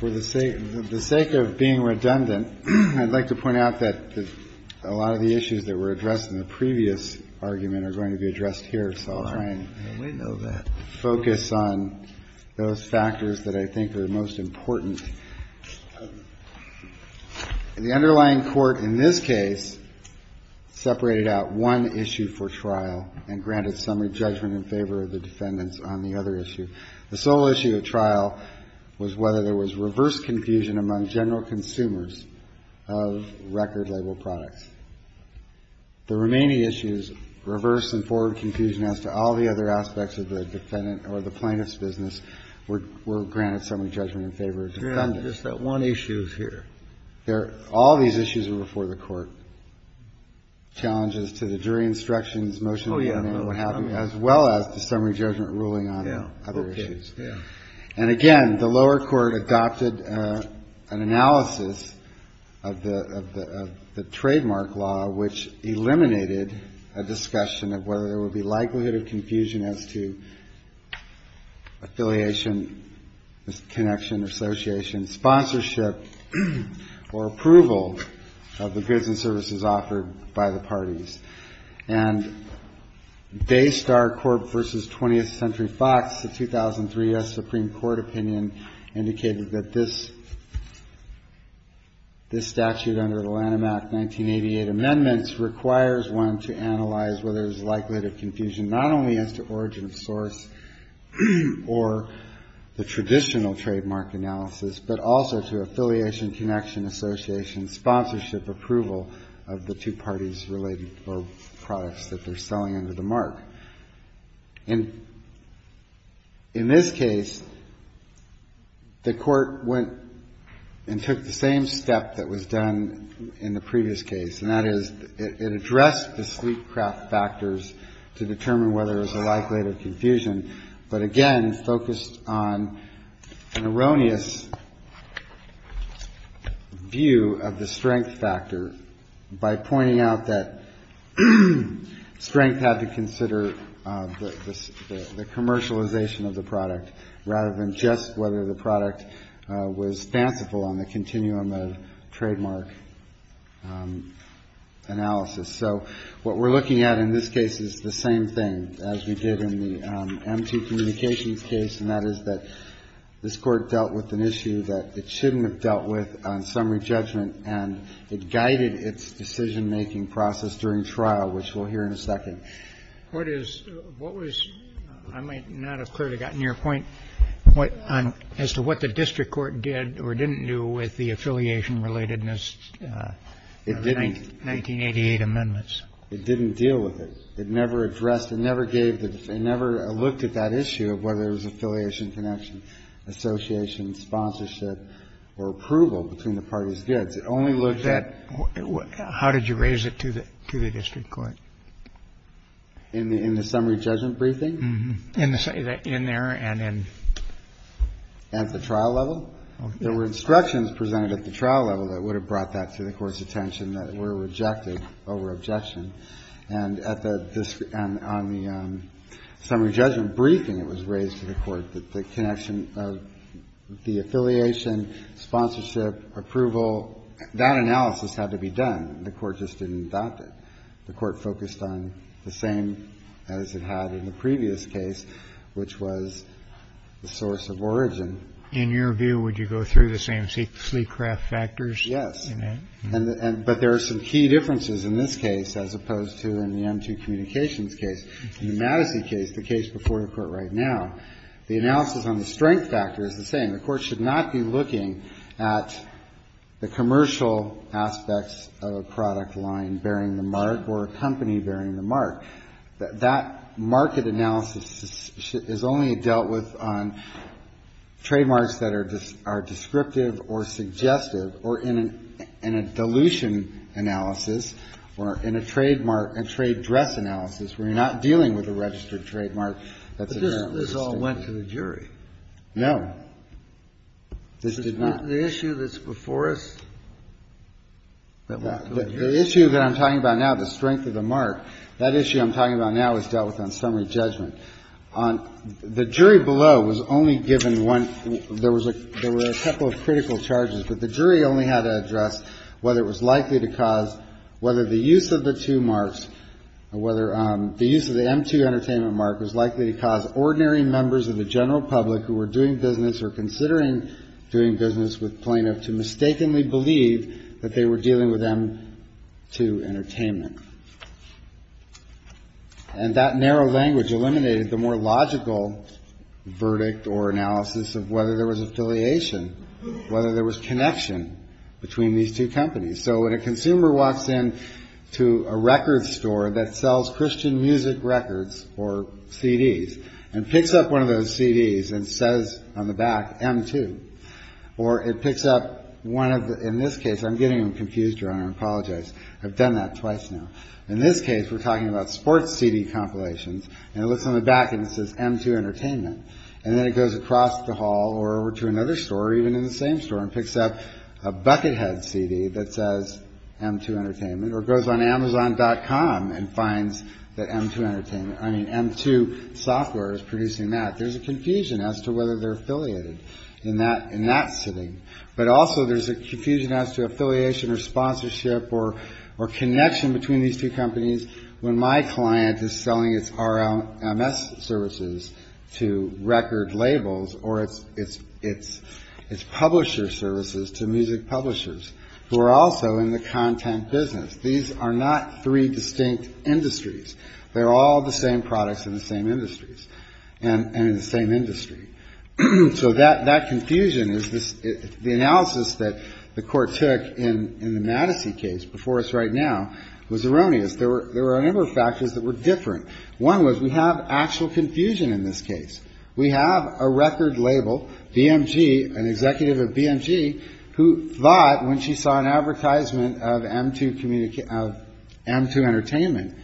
For the sake of being redundant, I'd like to point out that a lot of the issues that were addressed in the previous argument are going to be addressed here, so I'll try and focus on those factors that I think are most important. The underlying court in this case separated out one issue for trial and granted summary judgment in favor of the defendants on the other issue. The sole issue of trial was whether there was reverse confusion among general consumers of record-label products. The remaining issues, reverse and forward confusion as to all the other aspects of the defendant or the plaintiff's business, were granted summary judgment in favor of the defendants. Kennedy, just that one issue is here. All these issues were before the Court. Challenges to the jury instructions, motion to amend what happened, as well as the summary judgment ruling on other issues. And again, the lower court adopted an analysis of the trademark law, which eliminated a discussion of whether there would be likelihood of confusion as to affiliation, connection, association, sponsorship, or approval of the goods and services offered by the parties. And based our Corp versus 20th Century Fox, the 2003 U.S. Supreme Court opinion indicated that this statute under the Lanham Act 1988 amendments requires one to analyze whether there's likelihood of confusion not only as to origin of source or the traditional trademark analysis, but also to affiliation, connection, association, sponsorship, approval of the two parties' related products that they're selling under the mark. And in this case, the Court went and took the same step that was done in the previous case, and that is it addressed the sleep-craft factors to determine whether there's a likelihood of confusion, but again focused on an erroneous view of the strength factor by pointing out that strength had to consider the commercialization of the product, rather than just whether the product was fanciful on the continuum of trademark analysis. So what we're looking at in this case is the same thing as we did in the M.T. Communications case, and that is that this Court dealt with an issue that it shouldn't have dealt with on summary judgment, and it guided its decision-making process during trial, which we'll hear in a second. What is what was — I might not have clearly gotten your point on as to what the district court did or didn't do with the affiliation-relatedness of the 1988 amendments. It didn't deal with it. It never addressed — it never gave the — it never looked at that issue of whether there was affiliation, connection, association, sponsorship, or approval between the parties' goods. It only looked at — How did you raise it to the district court? In the summary judgment briefing? In there and in — At the trial level? There were instructions presented at the trial level that would have brought that to the Court's attention that were rejected over objection. And at the — on the summary judgment briefing, it was raised to the Court that the connection of the affiliation, sponsorship, approval, that analysis had to be done. The Court just didn't adopt it. The Court focused on the same as it had in the previous case, which was the source of origin. In your view, would you go through the same sleek craft factors? Yes. But there are some key differences in this case as opposed to in the M2 Communications case. In the Madison case, the case before the Court right now, the analysis on the strength factor is the same. The Court should not be looking at the commercial aspects of a product line bearing the mark or a company bearing the mark. That market analysis is only dealt with on trademarks that are descriptive or suggestive or in a dilution analysis or in a trademark, a trade dress analysis where you're not dealing with a registered trademark. But this all went to the jury. No. This did not. The issue that's before us that went to the jury. The issue that I'm talking about now, the strength of the mark, that issue I'm talking about now is dealt with on summary judgment. The jury below was only given one. There were a couple of critical charges, but the jury only had to address whether it was likely to cause whether the use of the two marks or whether the use of the M2 Entertainment mark was likely to cause ordinary members of the general public who were doing business or considering doing business with plaintiff to mistakenly believe that they were dealing with M2 Entertainment. And that narrow language eliminated the more logical verdict or analysis of whether there was affiliation, whether there was connection between these two companies. So when a consumer walks in to a record store that sells Christian music records or CDs and picks up one of those CDs and says on the back, M2, or it picks up one of the, in this case, I'm getting them confused around. I apologize. I've done that twice now. In this case, we're talking about sports CD compilations and it looks on the back and it says M2 Entertainment. And then it goes across the hall or over to another store, even in the same store, and picks up a Buckethead CD that says M2 Entertainment or goes on Amazon.com and finds that M2 Entertainment, I mean, M2 Software is producing that. There's a confusion as to whether they're affiliated in that sitting. But also there's a confusion as to affiliation or sponsorship or connection between these two companies when my client is selling its RMS services to record labels or its publisher services to music publishers who are also in the content business. These are not three distinct industries. They're all the same products in the same industries and in the same industry. So that confusion is the analysis that the court took in the Madison case before us right now was erroneous. There were a number of factors that were different. One was we have actual confusion in this case. We have a record label, BMG, an executive of BMG, who thought when she saw an advertisement of M2 Entertainment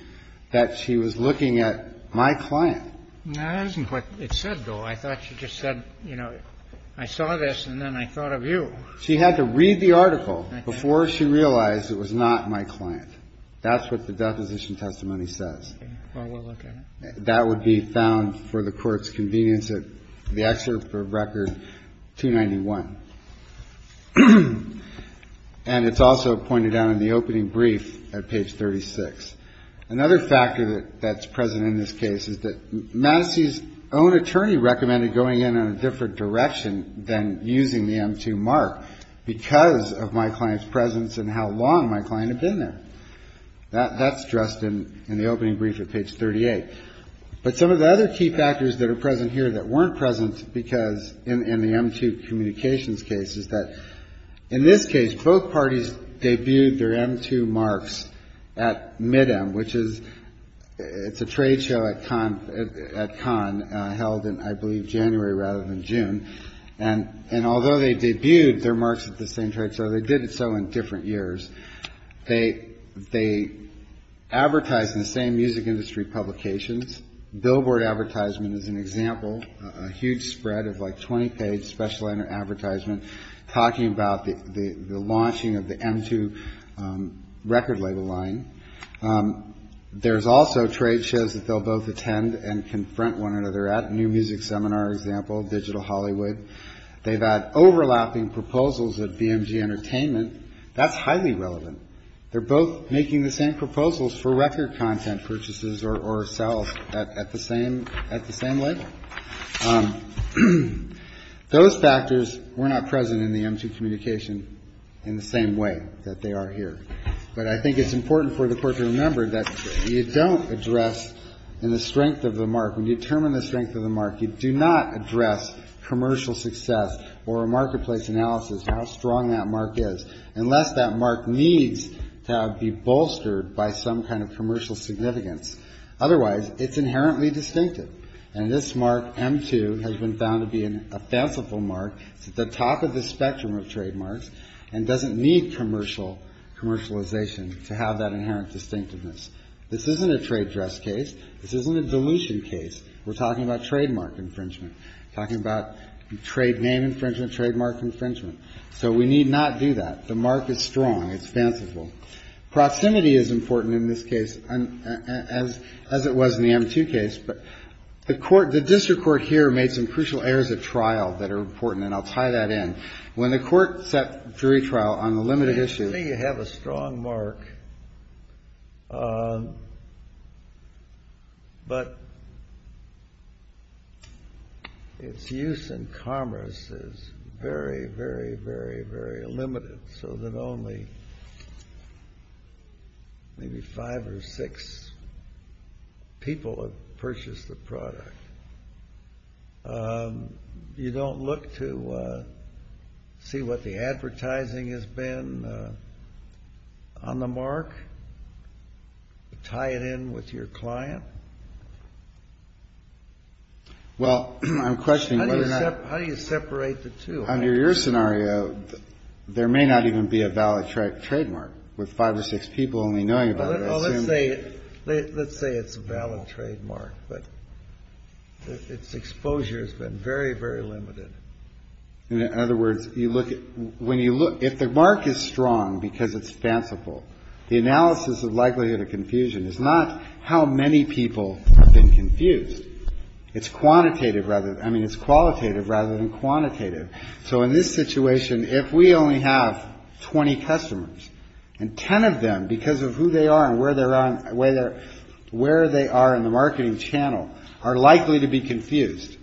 that she was looking at my client. No, that isn't what it said, though. I thought she just said, you know, I saw this and then I thought of you. She had to read the article before she realized it was not my client. That's what the deposition testimony says. Well, we'll look at it. That would be found for the Court's convenience at the excerpt for Record 291. And it's also pointed out in the opening brief at page 36. Another factor that's present in this case is that Madison's own attorney recommended going in on a different direction than using the M2 mark because of my client's presence and how long my client had been there. That's addressed in the opening brief at page 38. But some of the other key factors that are present here that weren't present in the M2 communications case is that in this case, both parties debuted their M2 marks at MIDEM, which is a trade show at Cannes held in, I believe, January rather than June. And although they debuted their marks at the same trade show, they did so in different years. They advertised in the same music industry publications. Billboard Advertisement is an example, a huge spread of like 20-page special advertisement talking about the launching of the M2 record label line. There's also trade shows that they'll both attend and confront one another at, New Music Seminar, for example, Digital Hollywood. They've had overlapping proposals at BMG Entertainment. That's highly relevant. They're both making the same proposals for record content purchases or sales at the same label. Those factors were not present in the M2 communication in the same way that they are here. But I think it's important for the Court to remember that you don't address in the strength of the mark. When you determine the strength of the mark, you do not address commercial success or a marketplace analysis, how strong that mark is, unless that mark needs to be bolstered by some kind of commercial significance. Otherwise, it's inherently distinctive. And this mark, M2, has been found to be a fanciful mark. It's at the top of the spectrum of trademarks and doesn't need commercialization to have that inherent distinctiveness. This isn't a trade dress case. This isn't a dilution case. We're talking about trademark infringement, talking about trade name infringement, trademark infringement. So we need not do that. The mark is strong. It's fanciful. Proximity is important in this case, as it was in the M2 case. But the court, the district court here made some crucial errors at trial that are important, and I'll tie that in. When the court set jury trial on the limited issue. Usually you have a strong mark, but its use in commerce is very, very, very, very limited so that only maybe five or six people have purchased the product. You don't look to see what the advertising has been on the mark, tie it in with your client? Well, I'm questioning whether or not. How do you separate the two? Under your scenario, there may not even be a valid trademark with five or six people only knowing about it. Well, let's say it's a valid trademark, but its exposure has been very, very limited. In other words, when you look, if the mark is strong because it's fanciful, the analysis of likelihood of confusion is not how many people have been confused. It's quantitative rather. I mean, it's qualitative rather than quantitative. So in this situation, if we only have 20 customers and 10 of them because of who they are and where they are in the marketing channel are likely to be confused,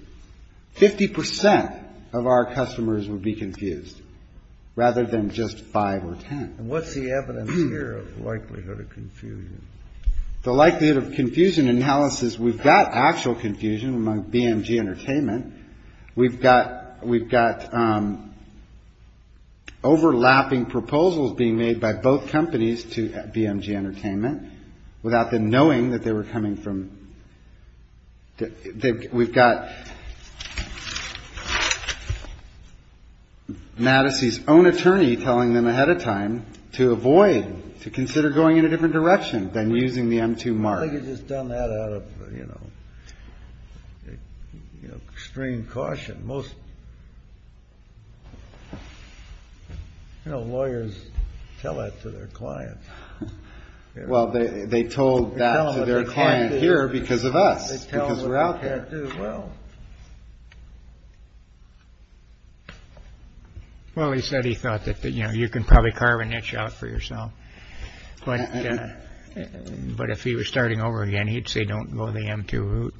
50% of our customers would be confused rather than just five or 10. What's the evidence here of likelihood of confusion? The likelihood of confusion analysis, we've got actual confusion among BMG Entertainment. We've got overlapping proposals being made by both companies to BMG Entertainment without them knowing that they were coming from – we've got Mattis's own attorney telling them ahead of time to avoid, to consider going in a different direction than using the M2 mark. I don't think he's just done that out of extreme caution. Most lawyers tell that to their clients. Well, they told that to their client here because of us, because we're out there. Well, he said he thought that you can probably carve an itch out for yourself. But if he were starting over again, he'd say don't go the M2 route.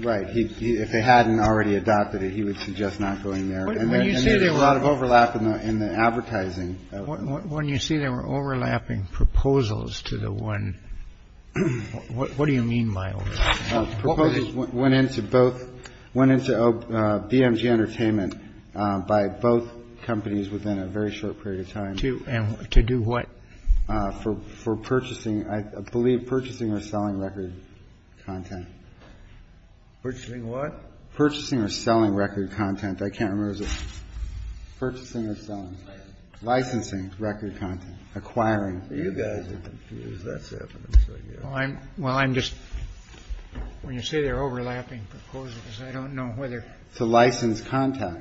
Right. If they hadn't already adopted it, he would suggest not going there. And there's a lot of overlap in the advertising. When you say there were overlapping proposals to the one – what do you mean by overlapping? Proposals went into both – went into BMG Entertainment by both companies within a very short period of time. To do what? For purchasing. I believe purchasing or selling record content. Purchasing what? Purchasing or selling record content. I can't remember. Purchasing or selling. Licensing. Licensing record content. Acquiring. You guys are confused. That's it. Well, I'm just – when you say there are overlapping proposals, I don't know whether – To license content.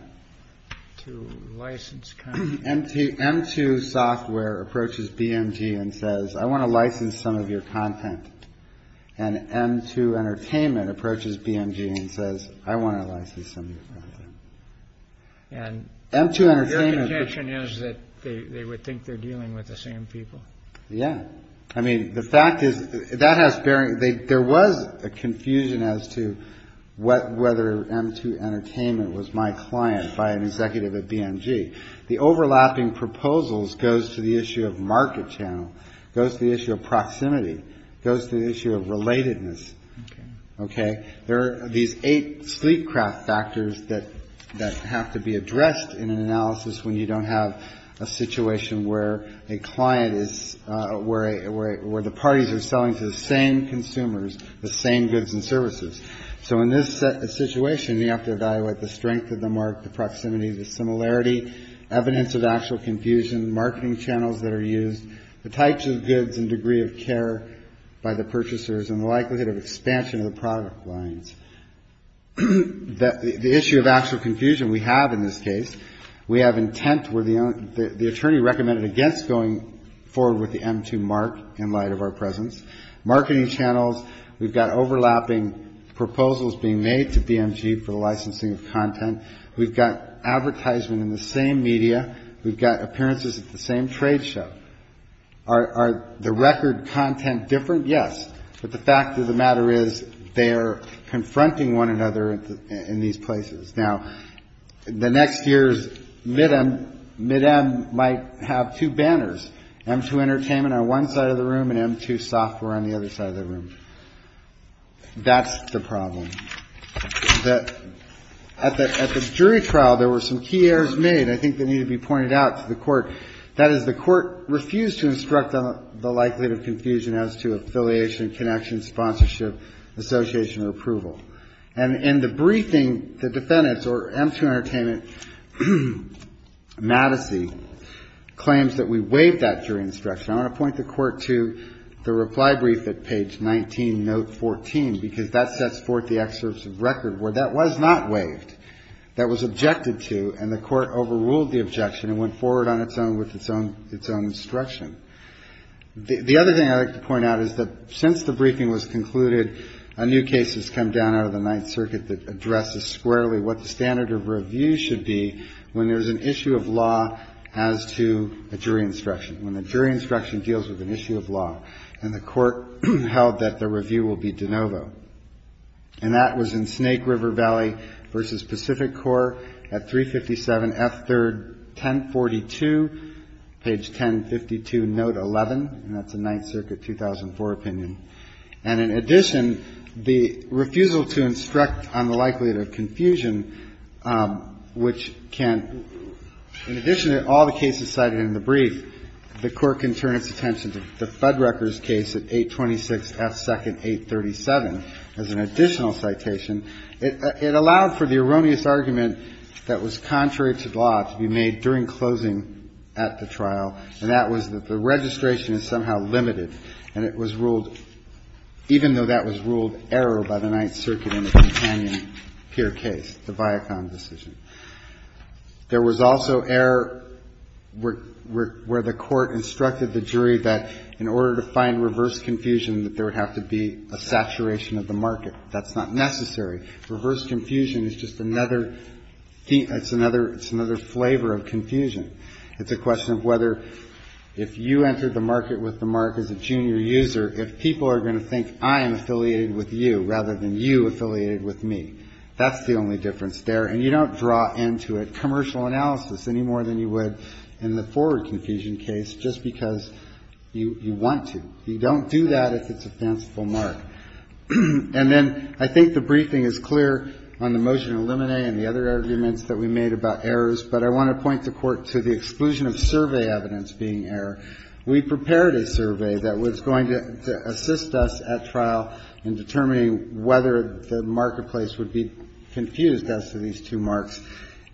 To license content. M2 Software approaches BMG and says, I want to license some of your content. And M2 Entertainment approaches BMG and says, I want to license some of your content. And your contention is that they would think they're dealing with the same people. Yeah. I mean, the fact is that has – there was a confusion as to whether M2 Entertainment was my client by an executive at BMG. The overlapping proposals goes to the issue of market channel, goes to the issue of proximity, goes to the issue of relatedness. Okay. There are these eight sleep craft factors that have to be addressed in an analysis when you don't have a situation where a client is – where the parties are selling to the same consumers the same goods and services. So in this situation, you have to evaluate the strength of the mark, the proximity, the similarity, evidence of actual confusion, marketing channels that are used, the types of goods and degree of care by the purchasers, and the likelihood of expansion of the product lines. The issue of actual confusion we have in this case, we have intent where the attorney recommended against going forward with the M2 mark in light of our presence. Marketing channels, we've got overlapping proposals being made to BMG for licensing of content. We've got advertisement in the same media. We've got appearances at the same trade show. Are the record content different? Yes. But the fact of the matter is they are confronting one another in these places. Now, the next year's MIDEM might have two banners, M2 Entertainment on one side of the room and M2 Software on the other side of the room. That's the problem. At the jury trial, there were some key errors made. I think they need to be pointed out to the court. That is, the court refused to instruct on the likelihood of confusion as to affiliation, connection, sponsorship, association or approval. And in the briefing, the defendants, or M2 Entertainment, Madison, claims that we waived that jury instruction. I want to point the court to the reply brief at page 19, note 14, because that sets forth the excerpts of record where that was not waived. That was objected to, and the court overruled the objection and went forward on its own with its own instruction. The other thing I'd like to point out is that since the briefing was concluded, new cases come down out of the Ninth Circuit that addresses squarely what the standard of review should be when there's an issue of law as to a jury instruction, when a jury instruction deals with an issue of law. And the court held that the review will be de novo. And that was in Snake River Valley v. Pacific Corps at 357 F. 3rd, 1042, page 1052, note 11. And that's a Ninth Circuit 2004 opinion. And in addition, the refusal to instruct on the likelihood of confusion, which can, in addition to all the cases cited in the brief, the court can turn its attention to the Fuddruckers case at 826 F. 2nd, 837 as an additional citation. It allowed for the erroneous argument that was contrary to the law to be made during closing at the trial, and that was that the registration is somehow limited and it was ruled, even though that was ruled error by the Ninth Circuit in the companion peer case, the Viacom decision. There was also error where the court instructed the jury that in order to find reverse confusion, that there would have to be a saturation of the market. That's not necessary. Reverse confusion is just another thing. It's another flavor of confusion. It's a question of whether if you entered the market with the mark as a junior user, if people are going to think I am affiliated with you rather than you affiliated with me. That's the only difference there. And you don't draw into it commercial analysis any more than you would in the forward confusion case just because you want to. You don't do that if it's a fanciful mark. And then I think the briefing is clear on the motion to eliminate and the other arguments that we made about errors, but I want to point the Court to the exclusion of survey evidence being error. We prepared a survey that was going to assist us at trial in determining whether the marketplace would be confused as to these two marks.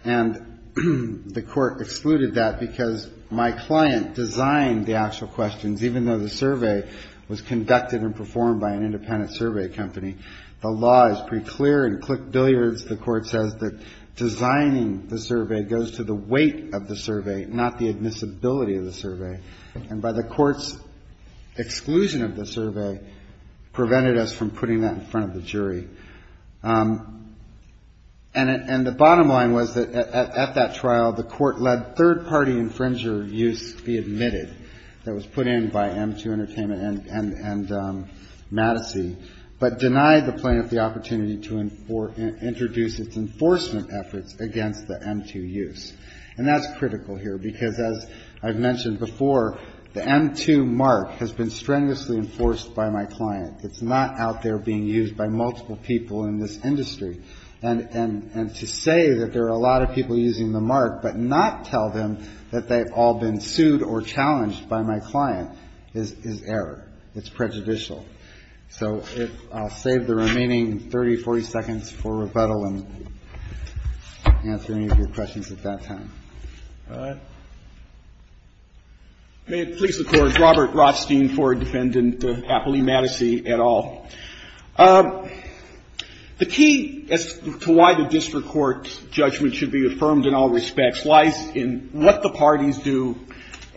And the Court excluded that because my client designed the actual questions, even though the survey was conducted and performed by an independent survey company. The law is pretty clear in click billiards. The Court says that designing the survey goes to the weight of the survey, not the admissibility of the survey. And by the Court's exclusion of the survey prevented us from putting that in front of the jury. And the bottom line was that at that trial, the Court let third-party infringer use be admitted that was put in by M2 Entertainment and Madison, but denied the plaintiff the opportunity to introduce its enforcement efforts against the M2 use. And that's critical here because, as I've mentioned before, the M2 mark has been strenuously enforced by my client. It's not out there being used by multiple people in this industry. And to say that there are a lot of people using the mark but not tell them that they've all been sued or challenged by my client is error. It's prejudicial. So I'll save the remaining 30, 40 seconds for rebuttal and answer any of your questions at that time. Roberts. May it please the Court. Robert Rothstein, forward defendant, Appley-Madison et al. The key as to why the district court's judgment should be affirmed in all respects lies in what the parties do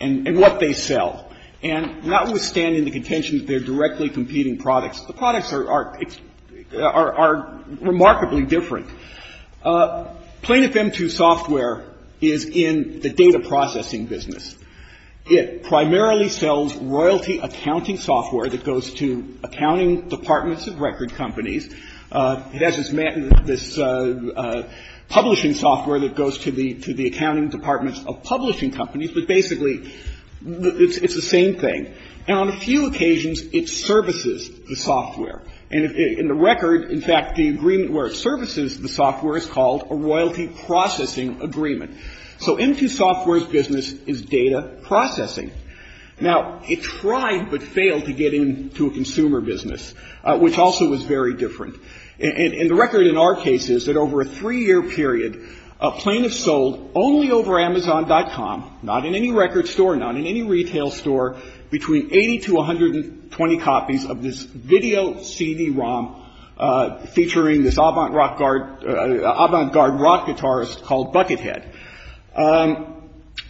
and what they sell. And notwithstanding the contention that they're directly competing products, the products are remarkably different. Plaintiff M2 software is in the data processing business. It primarily sells royalty accounting software that goes to accounting departments of record companies. It has this publishing software that goes to the accounting departments of publishing companies, but basically it's the same thing. And on a few occasions it services the software. And in the record, in fact, the agreement where it services the software is called a royalty processing agreement. So M2 software's business is data processing. Now, it tried but failed to get into a consumer business, which also was very different. And the record in our case is that over a three-year period, plaintiffs sold only over Amazon.com, not in any record store, not in any retail store, between 80 to 120 copies of this video CD-ROM featuring this avant-garde rock guitarist called Buckethead.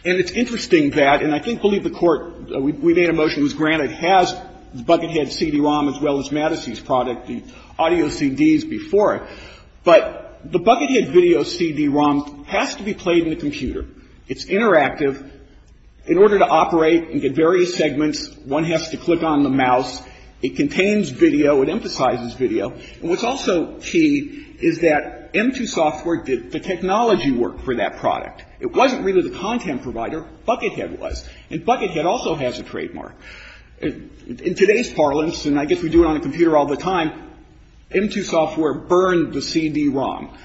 And it's interesting that, and I think we'll leave the Court, we made a motion that was granted, has Buckethead CD-ROM as well as Mattissey's product, the audio CDs before it. But the Buckethead video CD-ROM has to be played in the computer. It's interactive. In order to operate and get various segments, one has to click on the mouse. It contains video. It emphasizes video. And what's also key is that M2 software did the technology work for that product. It wasn't really the content provider. Buckethead was. And Buckethead also has a trademark. In today's parlance, and I guess we do it on a computer all the time, M2 software burned the CD-ROM.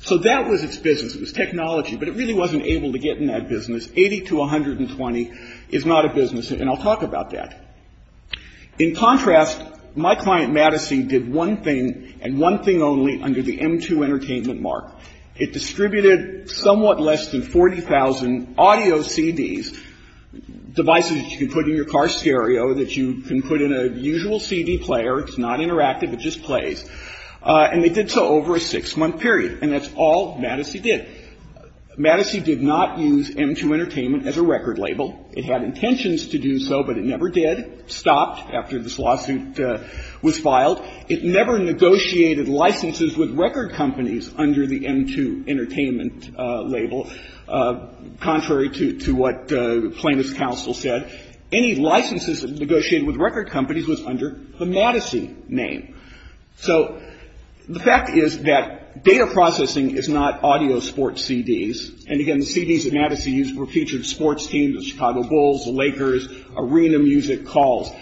So that was its business. It was technology. But it really wasn't able to get in that business. Eighty to 120 is not a business. And I'll talk about that. In contrast, my client Mattissey did one thing and one thing only under the M2 Entertainment mark. It distributed somewhat less than 40,000 audio CDs, devices that you can put in your car stereo, that you can put in a usual CD player. It's not interactive. It just plays. And they did so over a six-month period. And that's all Mattissey did. Mattissey did not use M2 Entertainment as a record label. It had intentions to do so, but it never did. Stopped after this lawsuit was filed. It never negotiated licenses with record companies under the M2 Entertainment label, contrary to what plaintiff's counsel said. Any licenses negotiated with record companies was under the Mattissey name. So the fact is that data processing is not audio sports CDs. And again, the CDs that Mattissey used were featured sports teams, the Chicago Bulls, the Lakers, arena music calls.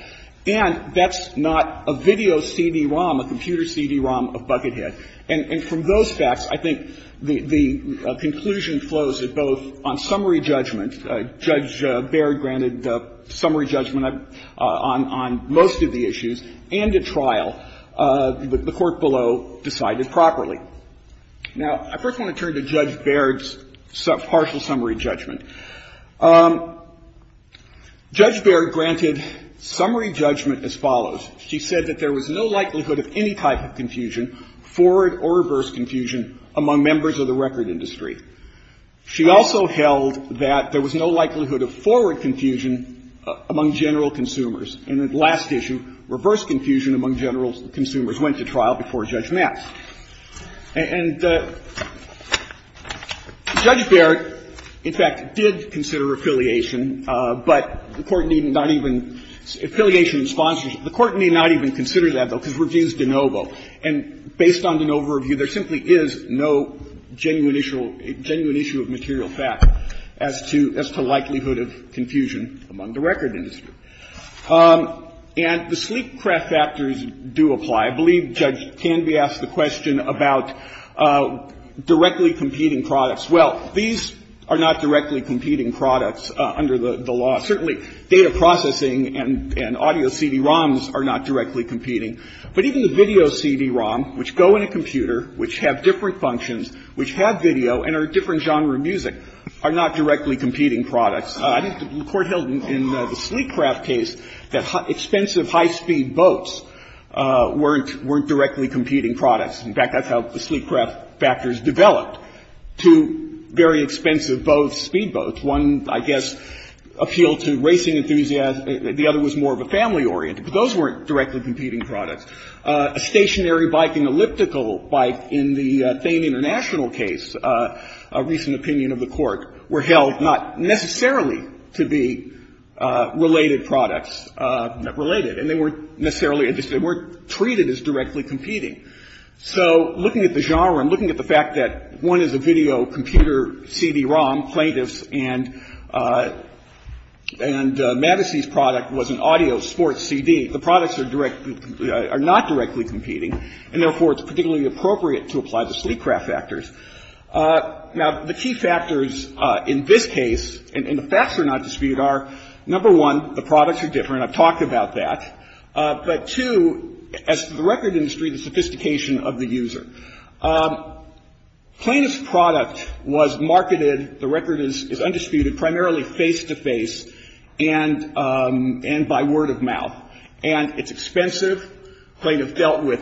And that's not a video CD-ROM, a computer CD-ROM of Buckethead. And from those facts, I think the conclusion flows that both on summary judgment, Judge Baird granted summary judgment on most of the issues, and at trial, the court below decided properly. Now, I first want to turn to Judge Baird's partial summary judgment. Judge Baird granted summary judgment as follows. She said that there was no likelihood of any type of confusion, forward or reverse confusion, among members of the record industry. She also held that there was no likelihood of forward confusion among general consumers. And then the last issue, reverse confusion among general consumers, went to trial before Judge Mattis. And Judge Baird, in fact, did consider affiliation. But the Court need not even – affiliation sponsors – the Court need not even consider that, though, because review is de novo. And based on de novo review, there simply is no genuine issue of material fact as to likelihood of confusion among the record industry. And the sleek craft factors do apply. I believe Judge Canby asked the question about directly competing products. Well, these are not directly competing products under the law. Certainly, data processing and audio CD-ROMs are not directly competing. But even the video CD-ROM, which go in a computer, which have different functions, which have video and are a different genre of music, are not directly competing products. The Court held in the sleek craft case that expensive high-speed boats weren't directly competing products. In fact, that's how the sleek craft factors developed. Two very expensive boats, speedboats, one, I guess, appealed to racing enthusiasts. The other was more of a family-oriented. But those weren't directly competing products. A stationary bike and elliptical bike in the Thane International case, a recent opinion of the Court, were held not necessarily to be related products, related. And they weren't necessarily, they weren't treated as directly competing. So looking at the genre and looking at the fact that one is a video computer CD-ROM, plaintiffs, and Madison's product was an audio sports CD, the products are not directly competing. And therefore, it's particularly appropriate to apply the sleek craft factors. Now, the key factors in this case, and the facts are not disputed, are, number one, the products are different. I've talked about that. But two, as to the record industry, the sophistication of the user. Plaintiff's product was marketed, the record is undisputed, primarily face-to-face and by word of mouth. And it's expensive. Plaintiff dealt with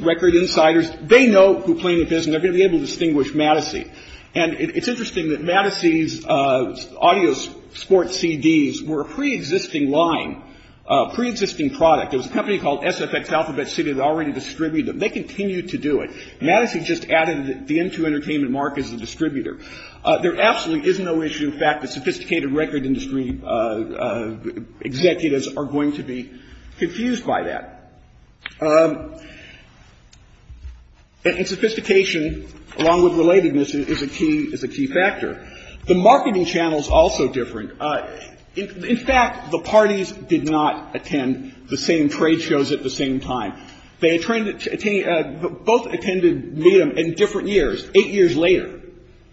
record insiders. They know who Plaintiff is, and they're going to be able to distinguish Madison. And it's interesting that Madison's audio sports CDs were a pre-existing line, a pre-existing product. It was a company called SFX Alphabet City that already distributed them. They continue to do it. Madison just added the N2 Entertainment mark as a distributor. There absolutely is no issue with the fact that sophisticated record industry executives are going to be confused by that. And sophistication, along with relatedness, is a key factor. The marketing channel is also different. In fact, the parties did not attend the same trade shows at the same time. They attended, both attended medium in different years, 8 years later.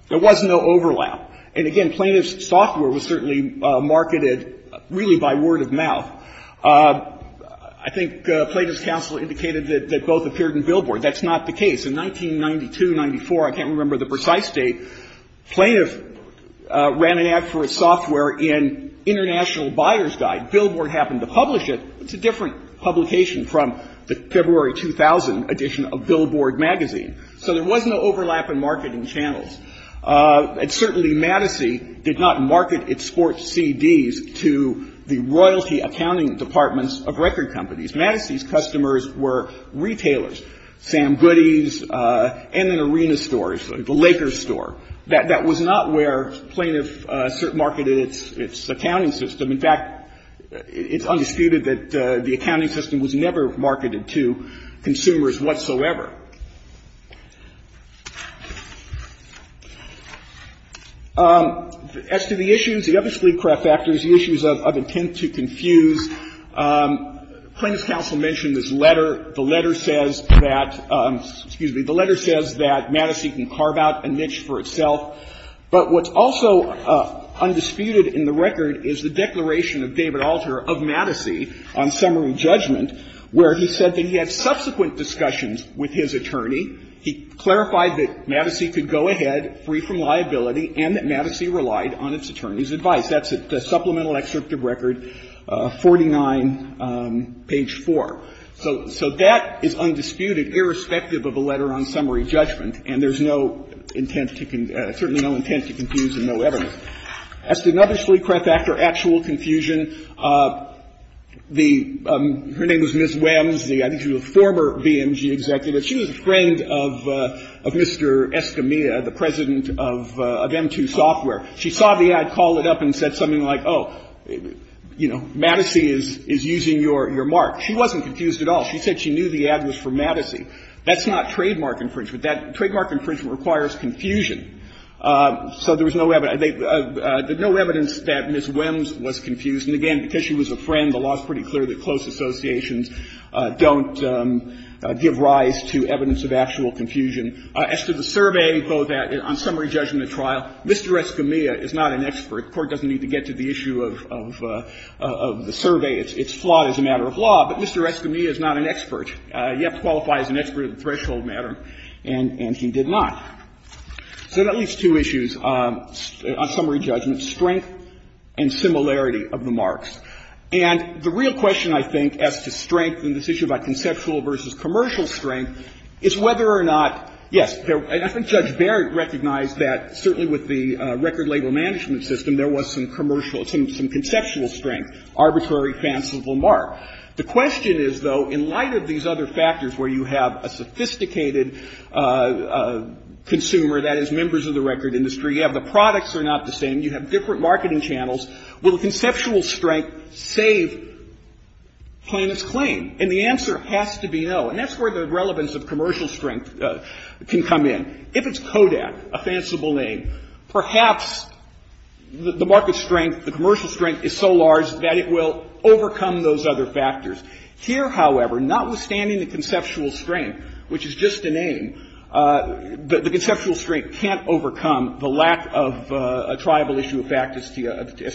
There was no overlap. And, again, Plaintiff's software was certainly marketed really by word of mouth. I think Plaintiff's counsel indicated that both appeared in Billboard. That's not the case. In 1992, 1994, I can't remember the precise date, Plaintiff ran an ad for his software in International Buyer's Guide. Billboard happened to publish it. It's a different publication from the February 2000 edition of Billboard magazine. So there was no overlap in marketing channels. And certainly, Madison did not market its sports CDs to the royalty accounting departments of record companies. Madison's customers were retailers, Sam Goody's and then arena stores, the Lakers store. That was not where Plaintiff marketed its accounting system. In fact, it's undisputed that the accounting system was never marketed to consumers whatsoever. As to the issues, the other split craft factors, the issues of intent to confuse, Plaintiff's counsel mentioned this letter. The letter says that, excuse me, the letter says that Madison can carve out a niche for itself, but what's also undisputed in the record is the declaration of David Alter of Madison on summary judgment, where he said that he had subsequent discussions with his attorney. He clarified that Madison could go ahead free from liability and that Madison relied on its attorney's advice. That's at the supplemental excerpt of record 49, page 4. So that is undisputed, irrespective of a letter on summary judgment. And there's no intent to, certainly no intent to confuse and no evidence. As to another split craft factor, actual confusion, the, her name is Ms. Wems, I think she was a former BMG executive. She was a friend of Mr. Escamilla, the president of M2 Software. She saw the ad, called it up and said something like, oh, you know, Madison is using your mark. She wasn't confused at all. She said she knew the ad was for Madison. That's not trademark infringement. Trademark infringement requires confusion. So there was no evidence. There's no evidence that Ms. Wems was confused. And again, because she was a friend, the law is pretty clear that close associations don't give rise to evidence of actual confusion. As to the survey, on summary judgment trial, Mr. Escamilla is not an expert. The Court doesn't need to get to the issue of the survey. It's flawed as a matter of law. But Mr. Escamilla is not an expert. You have to qualify as an expert in the threshold matter, and he did not. So that leaves two issues on summary judgment, strength and similarity of the marks. And the real question, I think, as to strength in this issue about conceptual versus commercial strength is whether or not, yes, I think Judge Barrett recognized that certainly with the record label management system, there was some commercial or some conceptual strength, arbitrary, fanciful mark. The question is, though, in light of these other factors where you have a sophisticated consumer that is members of the record industry, you have the products are not the same, you have different marketing channels, will conceptual strength save plaintiff's claim? And the answer has to be no. And that's where the relevance of commercial strength can come in. If it's Kodak, a fanciful name, perhaps the market strength, the commercial strength is so large that it will overcome those other factors. Here, however, notwithstanding the conceptual strength, which is just a name, the conceptual strength can't overcome the lack of a triable issue of fact as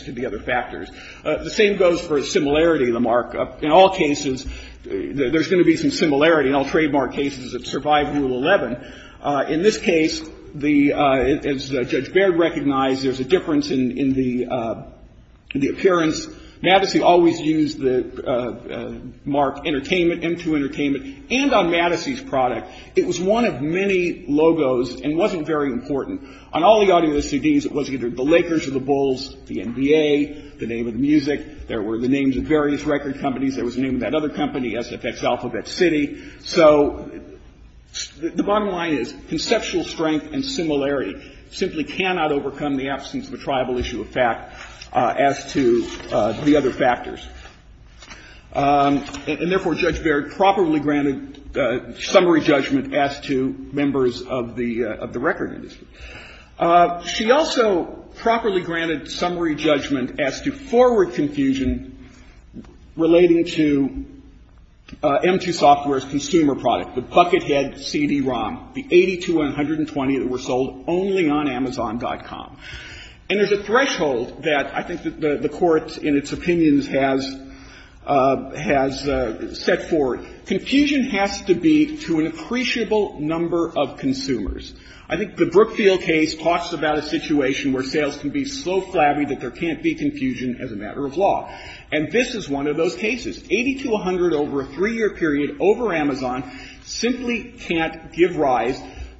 to the other factors. The same goes for similarity of the mark. In all cases, there's going to be some similarity in all trademark cases that survive Rule 11. In this case, as Judge Baird recognized, there's a difference in the appearance. Madison always used the mark entertainment, M2 Entertainment, and on Madison's product, it was one of many logos and wasn't very important. On all the audio CDs, it was either the Lakers or the Bulls, the NBA, the name of the music. There were the names of various record companies. There was the name of that other company, SFX Alphabet City. So the bottom line is conceptual strength and similarity simply cannot overcome the absence of a triable issue of fact as to the other factors. And, therefore, Judge Baird properly granted summary judgment as to members of the record industry. She also properly granted summary judgment as to forward confusion relating to M2 Software's consumer product, the Buckethead CD-ROM, the 80 to 120 that were sold only on Amazon.com. And there's a threshold that I think the Court, in its opinions, has set forward. Confusion has to be to an appreciable number of consumers. I think the Brookfield case talks about a situation where sales can be so flabby that there can't be confusion as a matter of law. And this is one of those cases. 80 to 100 over a three-year period over Amazon simply can't give rise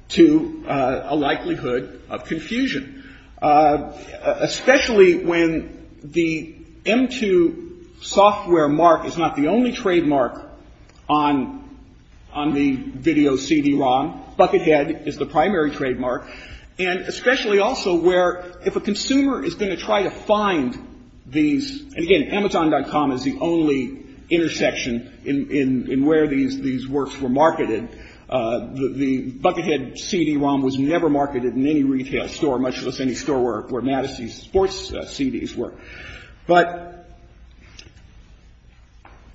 to a likelihood of confusion. Especially when the M2 Software mark is not the only trademark on the video CD-ROM. Buckethead is the primary trademark. And especially also where if a consumer is going to try to find these, and, again, Amazon.com is the only intersection in where these works were marketed. The Buckethead CD-ROM was never marketed in any retail store, much less any store where Mattis' sports CDs were. But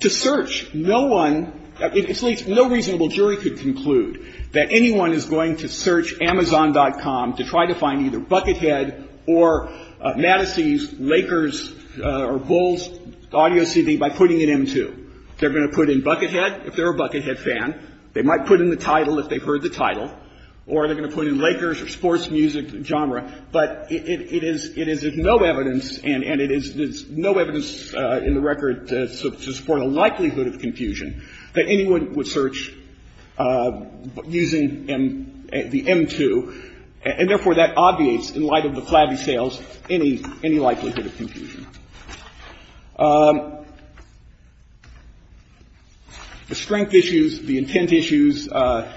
to search, no one, at least no reasonable jury could conclude that anyone is going to search Amazon.com to try to find either Buckethead or Mattis' Lakers or Bulls audio CD by putting it in M2. They're going to put in Buckethead, if they're a Buckethead fan. They might put in the title if they've heard the title. Or they're going to put in Lakers or sports music genre. But it is no evidence, and it is no evidence in the record to support a likelihood of confusion that anyone would search using the M2. And, therefore, that obviates, in light of the flabby sales, any likelihood of confusion. The strength issues, the intent issues, well,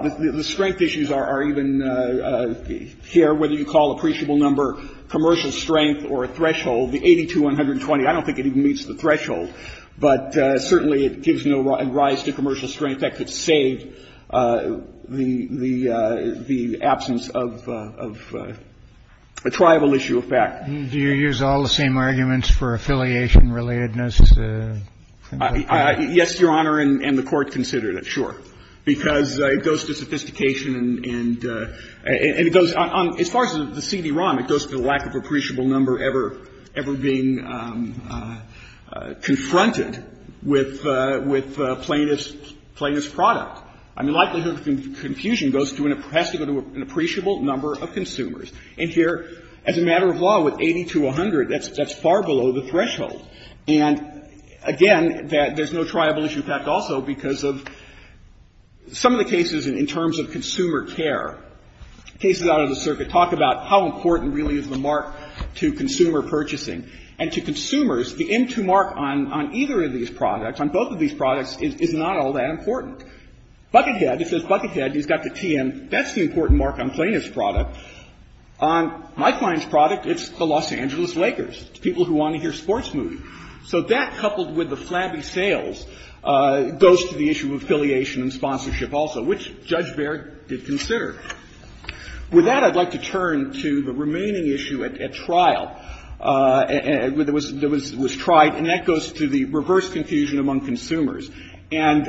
the strength issues are even here, whether you call appreciable number, commercial strength, or a threshold. The 82-120, I don't think it even meets the threshold. But, certainly, it gives no rise to commercial strength. In fact, it saved the absence of a tribal issue of fact. Do you use all the same arguments for affiliation-relatedness? Yes, Your Honor, and the Court considered it, sure. Because it goes to sophistication and it goes on. As far as the CD-ROM, it goes to the lack of appreciable number ever being confronted with plainest product. I mean, likelihood of confusion goes to an appreciable number of consumers. And here, as a matter of law, with 80-100, that's far below the threshold. And, again, there's no tribal issue of fact also because of some of the cases in terms of consumer care, cases out of the circuit talk about how important really is the mark to consumer purchasing. And to consumers, the M2 mark on either of these products, on both of these products, is not all that important. Buckethead, it says Buckethead, he's got the TM, that's the important mark on plainest product. On my client's product, it's the Los Angeles Lakers, people who want to hear sports movies. So that, coupled with the flabby sales, goes to the issue of affiliation and sponsorship also, which Judge Baird did consider. With that, I'd like to turn to the remaining issue at trial that was tried, and that goes to the reverse confusion among consumers. And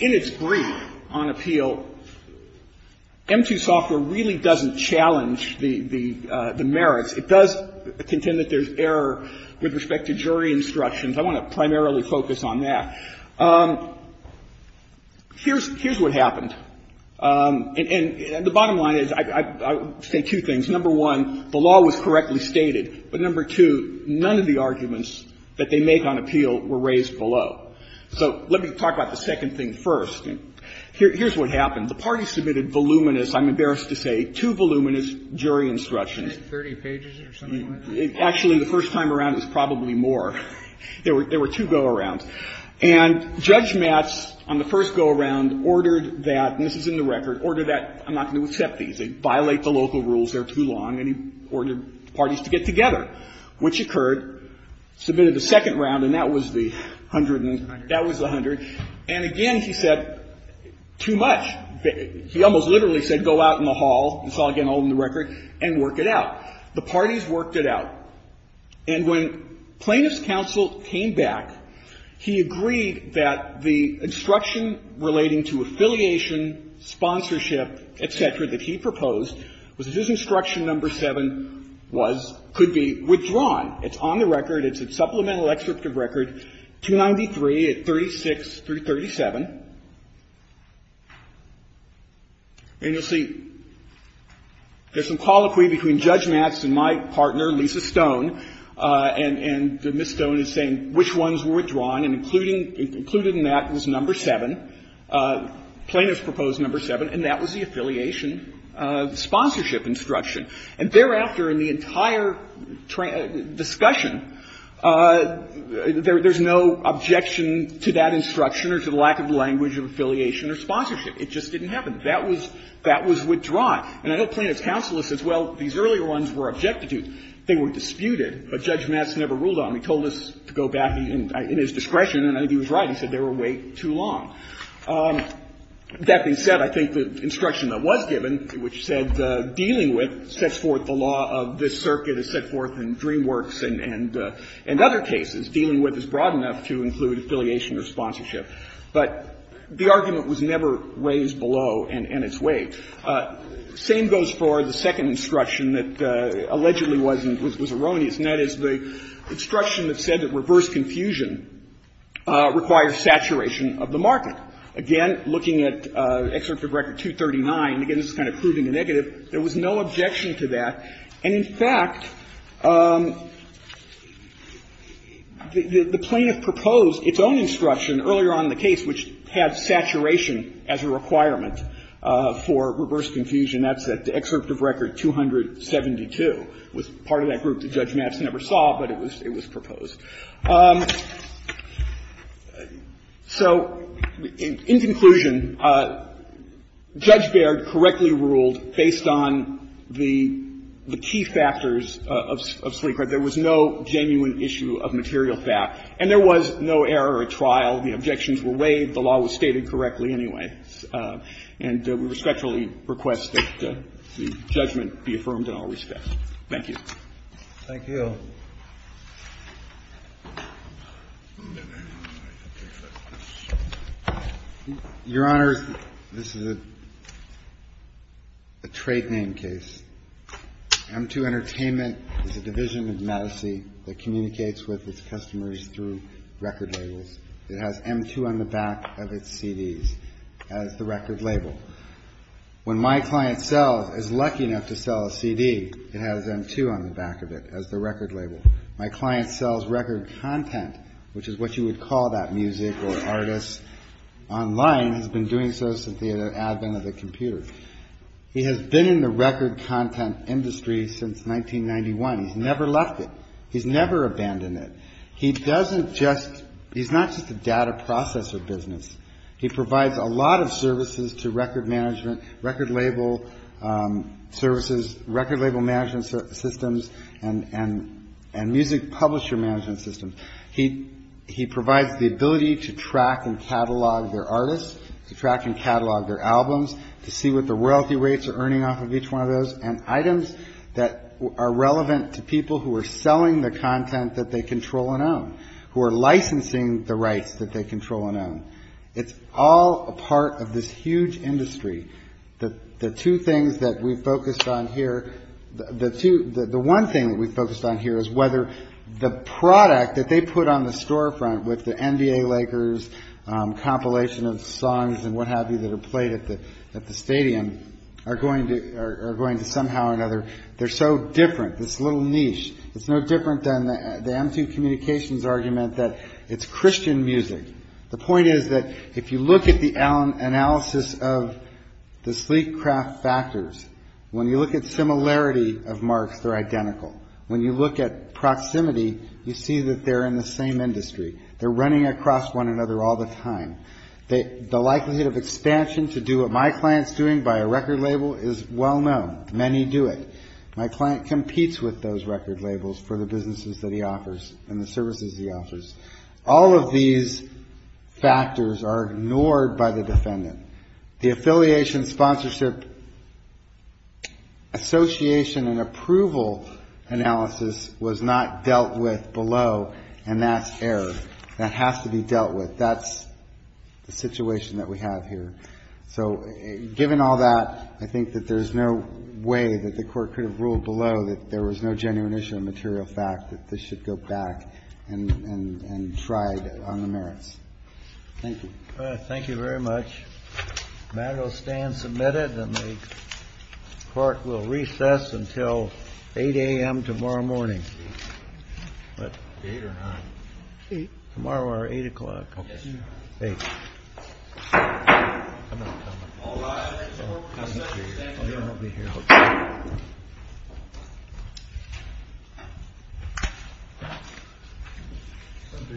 in its brief on appeal, M2 software really doesn't challenge the merits. It does contend that there's error with respect to jury instructions. I want to primarily focus on that. Here's what happened. And the bottom line is, I would say two things. Number one, the law was correctly stated. But, number two, none of the arguments that they make on appeal were raised below. So let me talk about the second thing first. Here's what happened. The parties submitted voluminous, I'm embarrassed to say, too voluminous jury instructions. Actually, the first time around, it was probably more. There were two go-arounds. And Judge Matz, on the first go-around, ordered that, and this is in the record, ordered that, I'm not going to accept these, they violate the local rules, they're And again, he said, too much. He almost literally said, go out in the hall, it's all, again, all in the record, and work it out. The parties worked it out. And when plaintiff's counsel came back, he agreed that the instruction relating to affiliation, sponsorship, et cetera, that he proposed was that his instruction number 7 was, could be withdrawn. It's on the record. It's at supplemental excerpt of record 293 at 36337. And you'll see there's some colloquy between Judge Matz and my partner, Lisa Stone, and Ms. Stone is saying which ones were withdrawn, and included in that was number 7, plaintiff's proposed number 7, and that was the affiliation sponsorship instruction. And thereafter, in the entire discussion, there's no objection to that instruction or to the lack of language of affiliation or sponsorship. It just didn't happen. That was withdrawn. And I know plaintiff's counsel says, well, these earlier ones were objected to. They were disputed, but Judge Matz never ruled on them. He told us to go back in his discretion, and I think he was right. He said they were way too long. That being said, I think the instruction that was given, which said dealing with sets forth the law of this circuit, is set forth in DreamWorks and other cases, dealing with is broad enough to include affiliation or sponsorship. But the argument was never raised below and its way. Same goes for the second instruction that allegedly was erroneous, and that is the instruction that said that reverse confusion requires saturation of the market. Again, looking at excerpt of record 239, again, this is kind of proving a negative, there was no objection to that. And, in fact, the plaintiff proposed its own instruction earlier on in the case, which had saturation as a requirement for reverse confusion. That's at excerpt of record 272. It was part of that group that Judge Matz never saw, but it was proposed. So in conclusion, Judge Baird correctly ruled, based on the key factors of Sleek record, there was no genuine issue of material fact, and there was no error at trial. The objections were waived. The law was stated correctly anyway. And we respectfully request that the judgment be affirmed in all respect. Thank you. Thank you. Your Honor, this is a trade name case. M2 Entertainment is a division of Madison that communicates with its customers through record labels. It has M2 on the back of its CDs as the record label. When my client sells, is lucky enough to sell a CD, it has M2 on the back of it as the record label. My client sells record content, which is what you would call that music or artist. Online has been doing so since the advent of the computer. He has been in the record content industry since 1991. He's never left it. He's never abandoned it. He's not just a data processor business. He provides a lot of services to record management, record label services, record label management systems, and music publisher management systems. He provides the ability to track and catalog their artists, to track and catalog their albums, to see what the wealthy rates are earning off of each one of those, and items that are relevant to people who are selling the content that they control and own, who are licensing the rights that they control and own. It's all a part of this huge industry. The two things that we've focused on here, the one thing that we've focused on here is whether the product that they put on the storefront with the NBA Lakers compilation of songs and what have you that are played at the stadium are going to somehow or another, they're so different, this little niche. It's no different than the M2 Communications argument that it's Christian music. The point is that if you look at the analysis of the sleek craft factors, when you look at similarity of marks, they're identical. When you look at proximity, you see that they're in the same industry. They're running across one another all the time. The likelihood of expansion to do what my client's doing by a record label is well known. Many do it. My client competes with those record labels for the businesses that he offers and the services he offers. All of these factors are ignored by the defendant. The affiliation sponsorship association and approval analysis was not dealt with below, and that's error. That has to be dealt with. That's the situation that we have here. So given all that, I think that there's no way that the court could have ruled below that there was no genuine issue of material fact, that this should go back and try on the merits. Thank you. Thank you very much. The matter will stand submitted, and the court will recess until 8 a.m. tomorrow morning. What? 8 or 9? 8. Tomorrow at 8 o'clock. Okay. 8. I'm not coming. All right. Thank you. I'll be here. I'll be here. Okay.